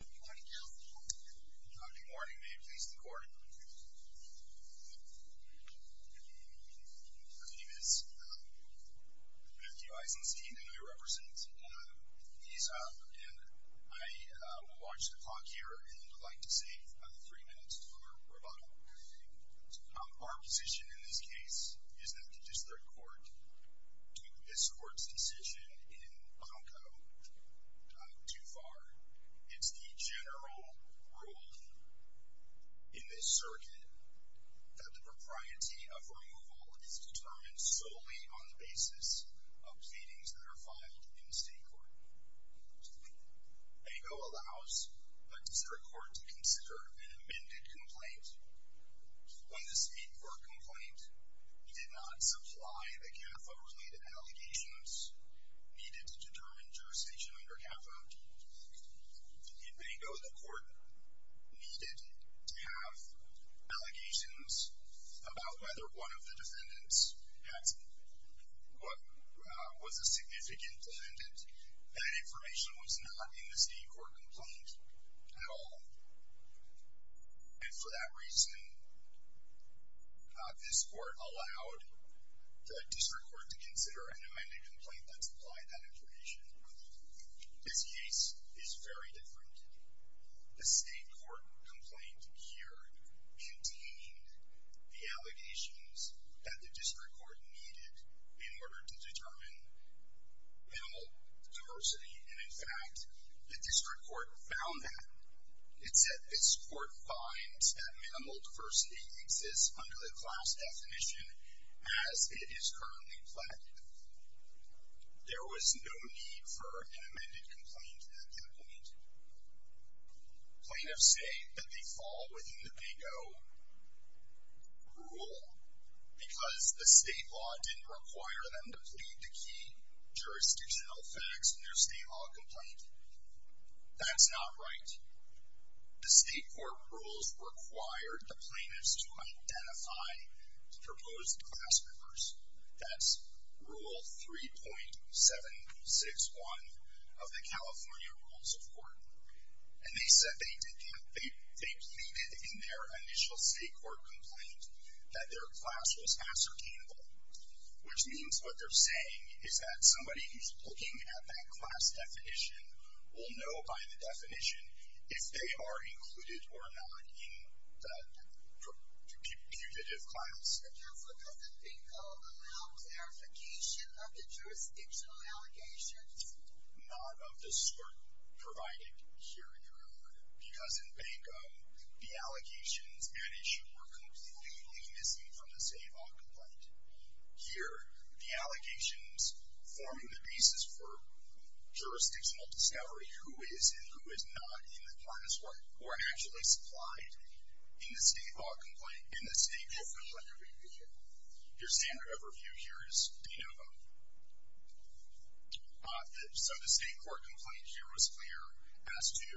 Good morning. May it please the Court. My name is Matthew Eisenstein and I represent VISA. I will launch the clock here and I would like to save three minutes for rebuttal. Our position in this case is that the District Court took this Court's decision in Hong Kong too far. It's the general rule in this circuit that the propriety of removal is determined solely on the basis of pleadings that are filed in the State Court. BANGO allows the District Court to consider an amended complaint. When the State Court complaint did not supply the CAFA-related allegations needed to determine jurisdiction under CAFA, in BANGO, the Court needed to have allegations about whether one of the defendants was a significant defendant. That information was not in the State Court complaint at all. And for that reason, this Court allowed the District Court to consider an amended complaint that supplied that information. This case is very different. The State Court complaint here contained the allegations that the District Court needed in order to determine minimal diversity. And in fact, the District Court found that. It said this Court finds that minimal diversity exists under the class definition as it is currently pledged. There was no need for an amended complaint in the complaint. Plaintiffs say that they fall within the BANGO rule because the state law didn't require them to plead the key jurisdictional facts in their state law complaint. That's not right. The State Court rules required the plaintiffs to identify proposed class members. That's Rule 3.761 of the California Rules of Court. And they said they pleaded in their initial State Court complaint that their class was ascertainable. Which means what they're saying is that somebody who's looking at that class definition will know by the definition if they are included or not in that putative class. The Council doesn't BANGO allow clarification of the jurisdictional allegations? Not of the sort provided here in your order. Because in BANGO, the allegations and issue were completely missing from the state law complaint. Here, the allegations form the basis for jurisdictional discovery. Who is and who is not in the class or actually supplied in the state law complaint, in the state professional interview here. Your standard of review here is to know them. So the state court complaint here was clear as to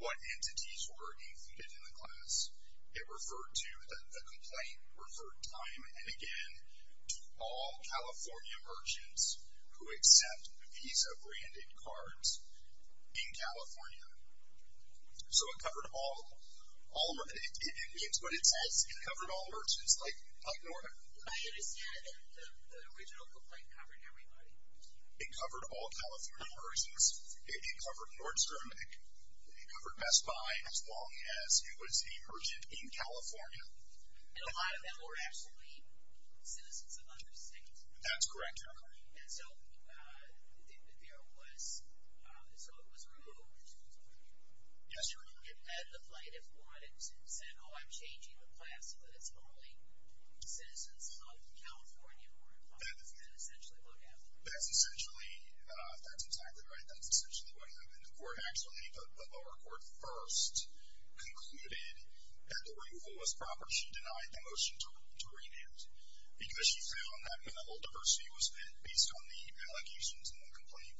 what entities were included in the class. It referred to the complaint, referred time and again to all California merchants who accept Visa branded cards in California. So it covered all, it means what it says, it covered all merchants. I understand that the original complaint covered everybody. It covered all California merchants. It covered Nordstrom. It covered Best Buy as long as it was a merchant in California. And a lot of them were actually citizens of other states. That's correct, Your Honor. And so there was, so it was removed. Yes, Your Honor. And the plaintiff wanted to say, oh, I'm changing the class so that it's only citizens of California who are in the class. That's essentially what happened. That's essentially, that's exactly right. That's essentially what happened. The court actually, the lower court first concluded that the removal was proper. She denied the motion to rename it. Because she found that when the whole diversity was fit based on the allegations in the complaint,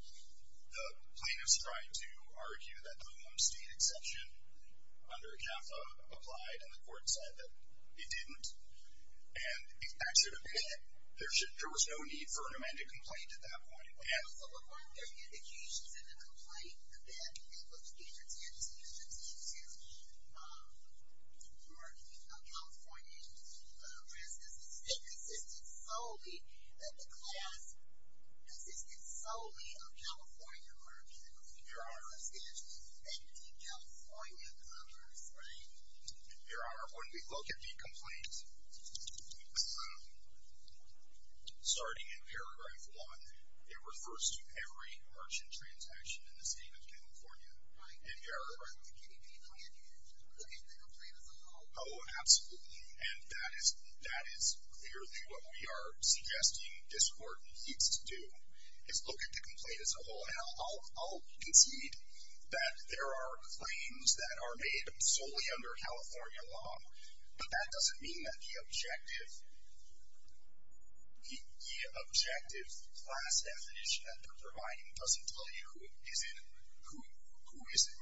the plaintiff's trying to argue that the home state exception under CAFA applied, and the court said that it didn't. And it actually, there was no need for a remanded complaint at that point. So, but weren't there indications in the complaint that it was being attempted to, attempted to be a merchant of California residents that consisted solely, that the class consisted solely of California merchants? I mean, Your Honor, essentially, they were deep California comers, right? Your Honor, when we look at the complaint, starting in paragraph one, it refers to every merchant transaction in the state of California. Right. And Your Honor. Right. The KDP plan is to look at the complaint as a whole. Oh, absolutely. And that is, that is clearly what we are suggesting this court needs to do, is look at the complaint as a whole. And I'll concede that there are claims that are made solely under California law. But that doesn't mean that the objective, the objective class definition that they're providing doesn't tell you who is in, who isn't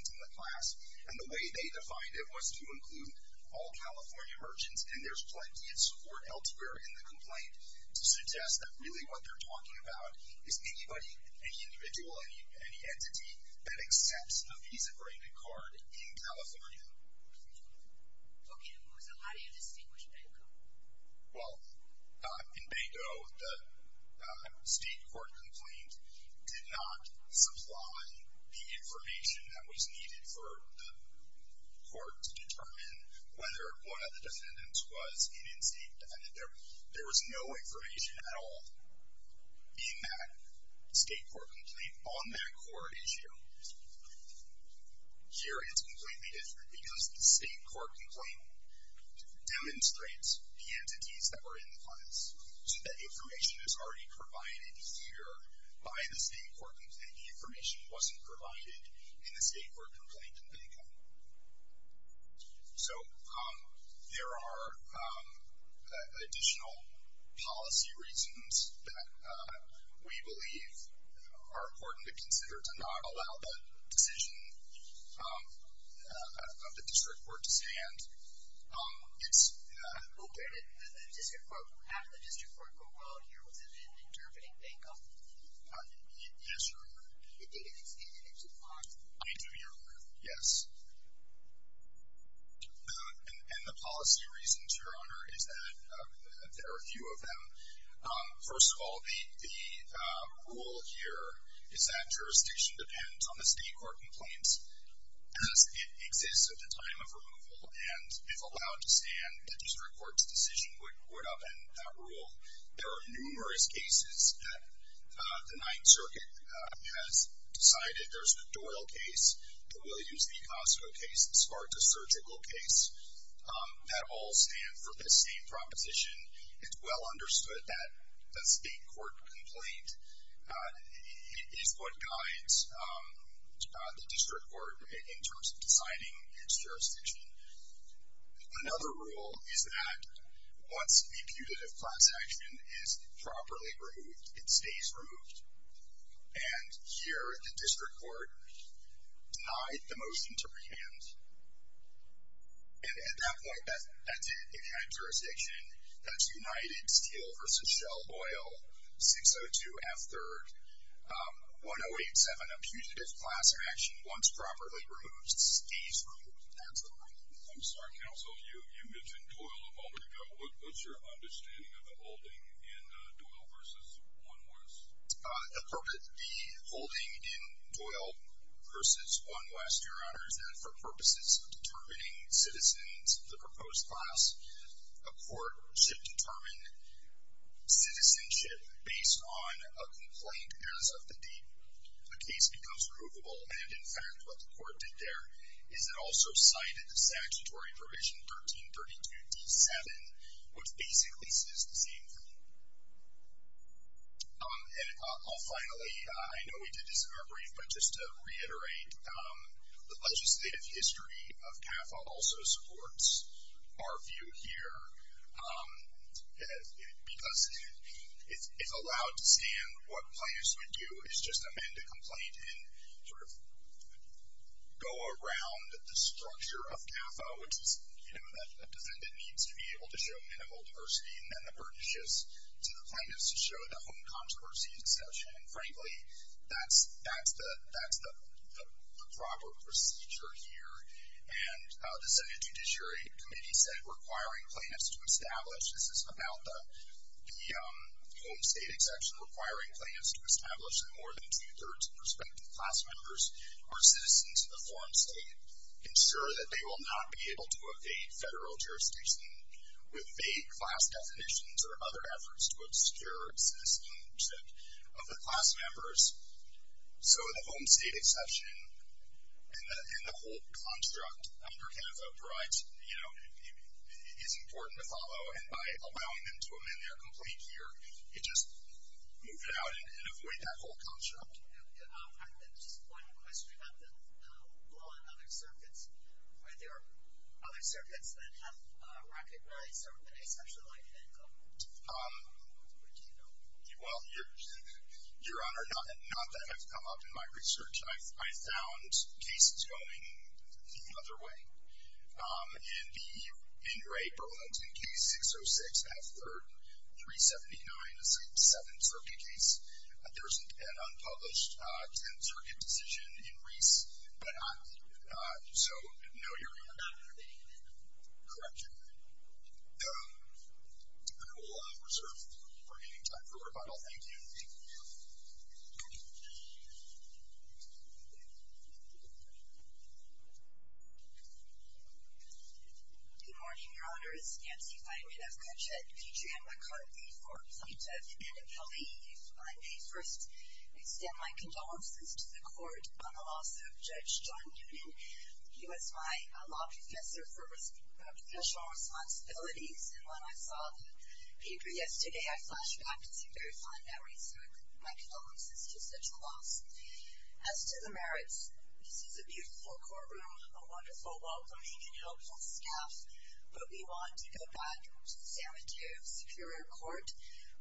in the class. And the way they defined it was to include all California merchants. And there's plenty of support elsewhere in the complaint to suggest that really what they're talking about is anybody, any individual, any entity that accepts a Visa agreement card in California. Okay. So how do you distinguish Banco? Well, in Banco, the state court complaint did not supply the information that was needed for the court to determine whether one of the defendants was an in-state defendant. There was no information at all. In that state court complaint, on that court issue, here it's completely different because the state court complaint demonstrates the entities that were in the class. So that information is already provided here by the state court complaint. The information wasn't provided in the state court complaint in Banco. So there are additional policy reasons that we believe are important to consider to not allow the decision of the district court to stand. It's located at the district court. After the district court compiled here, was it in interpreting Banco? Yes, Your Honor. It didn't extend into Banco? I do, Your Honor. Yes. And the policy reasons, Your Honor, is that there are a few of them. First of all, the rule here is that jurisdiction depends on the state court complaint as it exists at the time of removal. And if allowed to stand, the district court's decision would upend that rule. There are numerous cases that the Ninth Circuit has decided. There's the Doyle case, the Williams v. Costco case, the Sparta Surgical case. That all stand for the same proposition. It's well understood that the state court complaint is what guides the district court in terms of designing its jurisdiction. Another rule is that once a putative class action is properly removed, it stays removed. And here, the district court denied the motion to prevent. And at that point, that's it. It had jurisdiction. That's United Steel v. Shell Oil, 602F3rd, 1087, a putative class action once properly removed, stays removed. That's the rule. I'm sorry, counsel. You mentioned Doyle a moment ago. What's your understanding of the holding in Doyle v. One West? The holding in Doyle v. One West, Your Honor, is that for purposes of determining citizens of the proposed class, a court should determine citizenship based on a complaint as of the date the case becomes removable. And in fact, what the court did there is it also cited the statutory provision, 1332D7, which basically says the same thing. And finally, I know we did this in our brief, but just to reiterate, the legislative history of CAFA also supports our view here, because it's allowed to say in what place we do is just amend a complaint and sort of go around the structure of CAFA, which is that a defendant needs to be able to show minimal diversity, and then the burden shifts to the plaintiffs to show the home controversy exception. And frankly, that's the proper procedure here. And the Second Judiciary Committee said requiring plaintiffs to establish, with more than two-thirds prospective class members who are citizens of the form state, ensure that they will not be able to evade federal jurisdiction with vague class definitions or other efforts to obscure citizenship of the class members. So the home state exception and the whole construct under CAFA provides, you know, is important to follow. And by allowing them to amend their complaint here, you just move it out and avoid that whole construct. I have just one question about the law and other circuits. Are there other circuits that have recognized or have been exceptionally light-handed in government? What do you know? Well, Your Honor, not that I've come up in my research. I found cases going the other way. In the Ingray-Berlinton case, 606 F. 3rd, 379, is a seven-circuit case. There's an unpublished ten-circuit decision in Reese. So, no, Your Honor. Correct you. I will reserve the remaining time for rebuttal. Thank you. Thank you. Good morning, Your Honors. Nancy Feynman of Cochette, P.J. McCartney for Plaintiff and Appealee. I may first extend my condolences to the Court on the loss of Judge John Newton. He was my law professor for professional responsibilities, and when I saw the paper yesterday, I flashbacked to very fond memories of my condolences to such a loss. As to the merits, this is a beautiful courtroom, a wonderful, welcoming, and helpful staff, but we want to go back to San Mateo Superior Court,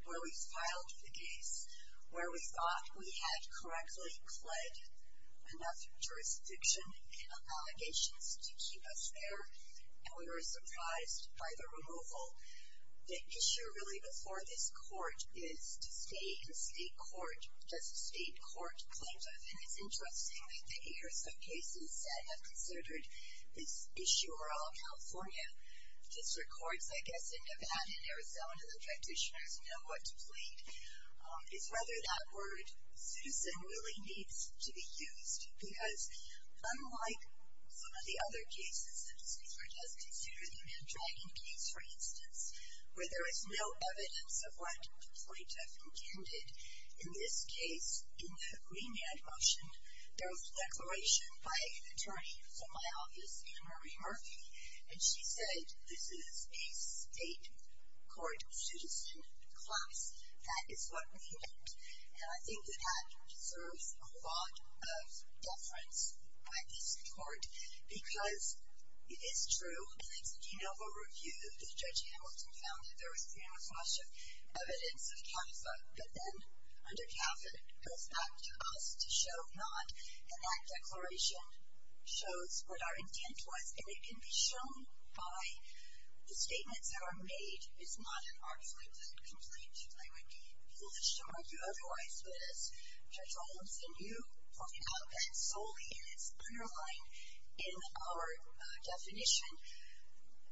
where we filed the case, where we thought we had correctly pled enough jurisdiction and allegations to keep us there, and we were surprised by the removal. The issue really before this court is to stay in state court, just state court plaintiff, and it's interesting that the eight or so cases that have considered this issue are all California. This records, I guess, in Nevada and Arizona, the practitioners know what to plead. It's rather that word, citizen, really needs to be used, because unlike some of the other cases, the district court does consider the man dragging case, for instance, where there is no evidence of what the plaintiff intended in this case, in the remand motion, there was a declaration by an attorney from my office, Ann Marie Murphy, and she said, this is a state court citizen class. That is what we want, and I think that that deserves a lot of deference by this court, because it is true. In the De Novo review, Judge Hamilton found that there was enough to us to show not, and that declaration shows what our intent was, and it can be shown by the statements that are made. It's not an artfully put complaint. I would be foolish to argue otherwise with this. Judge Hamilton, you pointed out that solely in its underline in our definition,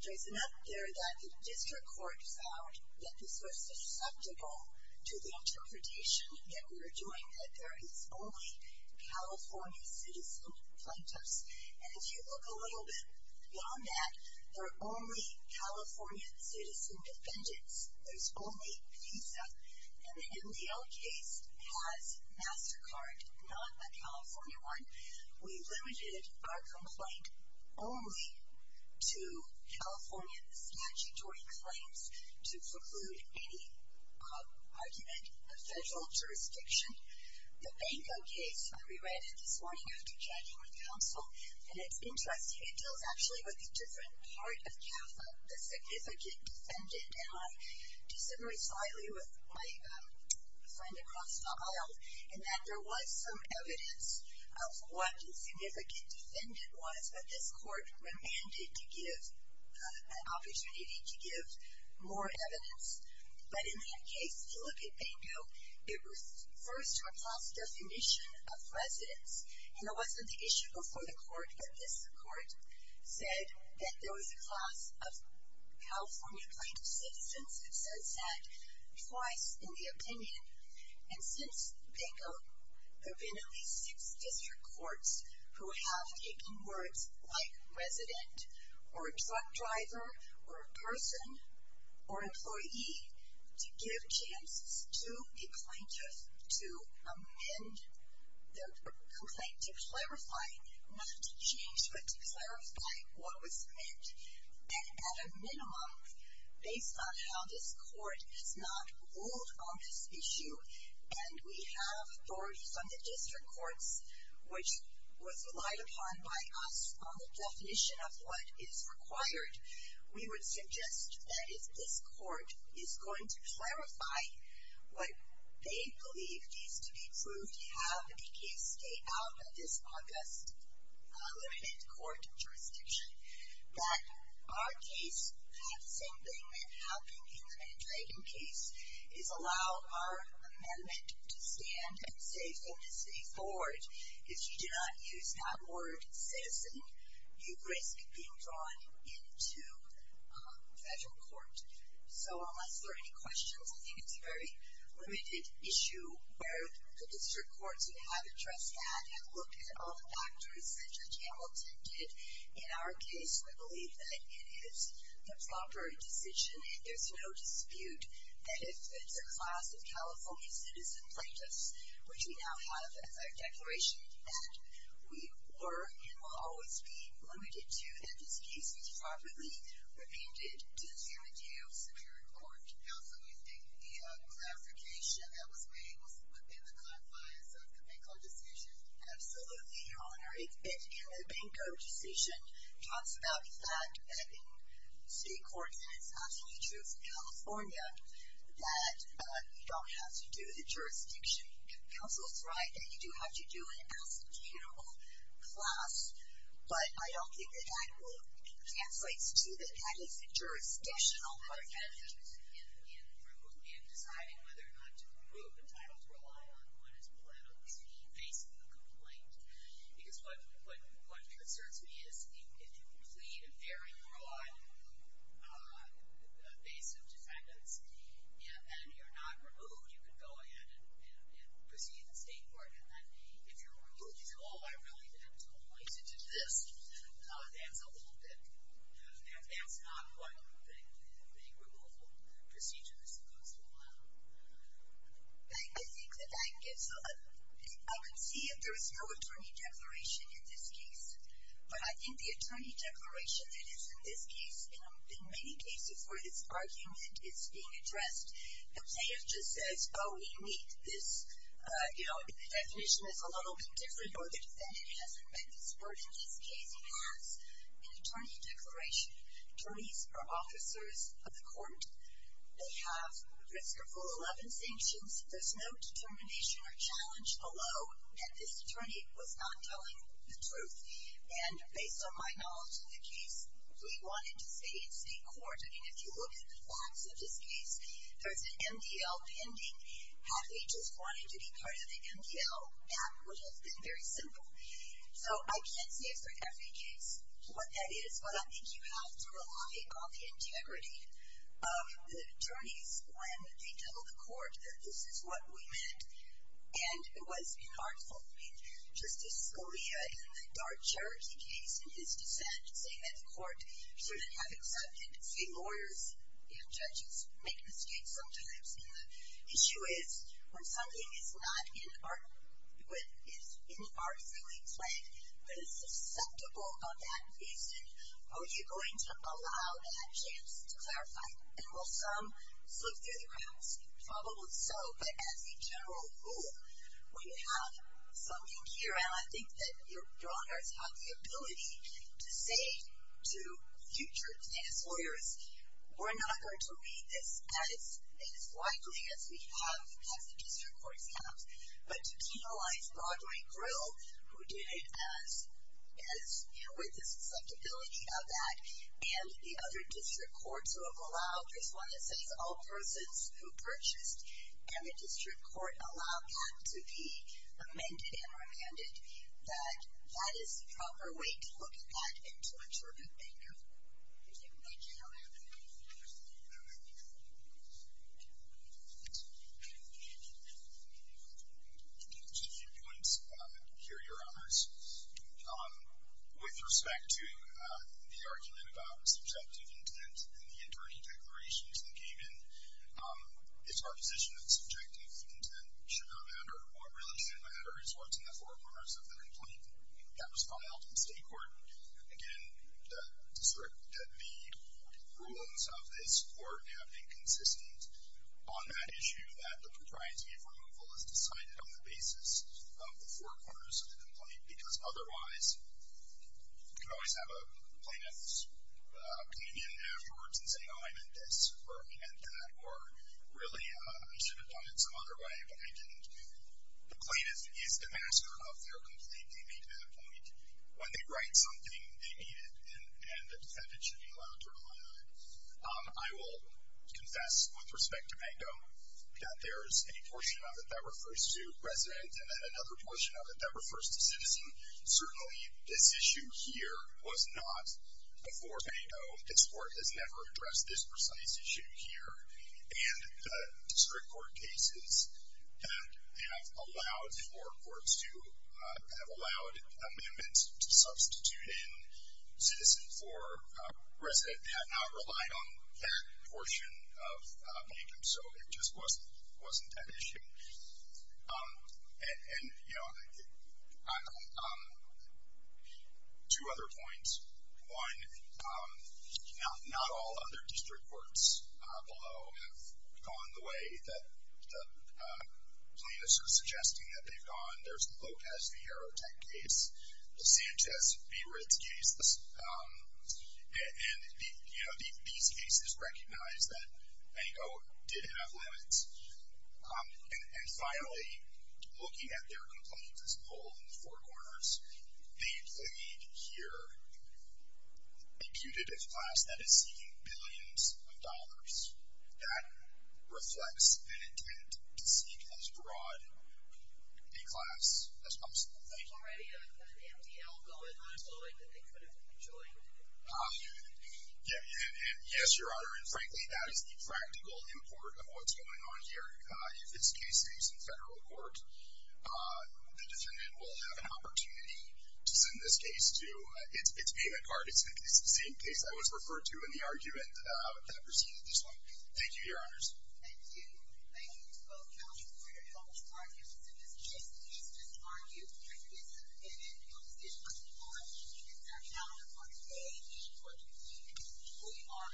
there's enough there that the district court found that this was susceptible to the interpretation that we were doing, that there is only California citizen plaintiffs, and if you look a little bit beyond that, there are only California citizen defendants. There's only PISA, and the NBL case has MasterCard, not a California one. We limited our complaint only to California statutory claims to preclude any argument in a federal jurisdiction. The Banco case, we read it this morning after chatting with counsel, and it's interesting. It deals actually with a different part of CAFA, the significant defendant, and I disagreed slightly with my friend across the aisle, in that there was some evidence of what the significant defendant was, but this court remanded to give an opportunity to give more evidence, but in that case, if you look at Banco, it was first to a class definition of residents, and it wasn't the issue before the court, but this court said that there was a class of California plaintiff citizens that says that twice in the opinion, and since Banco, there have been at least six district courts who have taken words like resident or a truck driver or a person or employee to give chances to a plaintiff to amend their complaint, to clarify, not to change, but to clarify what was meant, and at a minimum, based on how this court has not ruled on this issue, and we have authorities on the district courts, which was relied upon by us on the definition of what is required, we would suggest that if this court is going to clarify what they believe needs to be proved to have the case take out of this August limited court jurisdiction, that our case, that the same thing that happened in the Manny Dragan case, is allow our amendment to stand and say, from this day forward, if you do not use that word citizen, you risk being drawn into federal court. So, unless there are any questions, I think it's a very limited issue where the district courts who have addressed that have looked at all the factors that Judge Hamilton did in our case, we believe that it is the proper decision. There's no dispute that if it's a class of California citizen plaintiffs, which we now have a declaration that we were, and will always be, limited to that this case is properly remanded to the San Mateo Superior Court. Also, do you think the clarification that was made was within the clarifies of the Benko decision? Absolutely. Your Honor, it's been in the Benko decision. It talks about the fact that in state court, and it's not the case of California, that you don't have to do the jurisdiction. Counsel's right that you do have to do an executable class, but I don't think that that translates to that that is a jurisdictional argument. In deciding whether or not to approve a title to rely on, one is politically facing a complaint. Because what concerns me is if you complete a very broad base of defendants, and you're not removed, you can go ahead and proceed in state court, and then if you're removed, you say, oh, I really meant only to do this. That's a little bit, that's not what the removal procedure is supposed to allow. I think that that gives, I can see if there is no attorney declaration in this case, but I think the attorney declaration that is in this case, in many cases where this argument is being addressed, the plaintiff just says, oh, we meet this, the definition is a little bit different, or the defendant hasn't met this burden in this case, has an attorney declaration. Attorneys are officers of the court. They have risk or full 11 sanctions. There's no determination or challenge below that this attorney was not telling the truth. And based on my knowledge of the case, we wanted to stay in state court. I mean, if you look at the facts of this case, there's an MDL pending. Had they just wanted to be part of the MDL, that would have been very simple. So, I can't say for every case what that is, but I think you have to rely on the integrity of the attorneys when they tell the court that this is what we meant, and it was inartful. I mean, Justice Scalia in the Dart Charity case, in his dissent, saying that the court should have accepted, see, lawyers and judges make mistakes sometimes, and the issue is when something is not in the art, when it's inarticulately played, but is susceptible of that reason, are you going to allow that chance to clarify, and will some slip through the cracks? Probably so, but as a general rule, when you have something here, and I think that your own guards have the ability to say to future status lawyers, we're not going to read this as widely as we have, as the district courts have, but to penalize Broadway Grill, who did it with the susceptibility of that, and the other district courts who have allowed, there's one that says all persons who purchased, and the district court allowed that to be amended and remanded, that that is the proper way to look at that and to ensure that they cover it. Thank you. Thank you. Just a few points here, Your Honors. With respect to the argument about subjective intent in the attorney declarations that came in, it's our position that subjective intent should not matter. What really should matter is what's in the forewarners of the complaint that was filed in state court. Again, the rulings of this court have been consistent on that issue that the propriety of removal is decided on the basis of the forewarners of the complaint, because otherwise you could always have a plaintiff's opinion afterwards and say, oh, I meant this, or I meant that, or really I should have done it some other way, but I didn't. The plaintiff is the master of their complaint. When they write something, they need it, and the defendant should be allowed to rely on it. I will confess, with respect to Mango, that there is a portion of it that refers to resident and then another portion of it that refers to citizen. Certainly this issue here was not before Mango. This court has never addressed this precise issue here, and the district court cases that have allowed for courts to have allowed amendments to substitute in citizen for resident have not relied on that portion of Mango. So it just wasn't that issue. And, you know, two other points. One, not all other district courts below have gone the way that plaintiffs are suggesting that they've gone. There's the Lopez V. Herotek case, the Sanchez v. Ritz case, and, you know, these cases recognize that Mango did have limits. And finally, looking at their complaints as a whole in the four corners, they plead here a putative class that is seeking billions of dollars. That reflects an intent to seek as broad a class as possible. Thank you. Already an MDL going on, so, like, they could have enjoyed it. Yes, Your Honor. And, frankly, that is the practical import of what's going on here. If this case stays in federal court, the defendant will have an opportunity to send this case to its payment card. It's the same case I was referring to in the argument that preceded this one. Thank you, Your Honors. Thank you. Thank you both, counsel, for your helpful arguments in this case. This case is argued in favor of the defendant, and your decision must be lauded. Is there a count of one to eight? Four to 15. We are adjourned.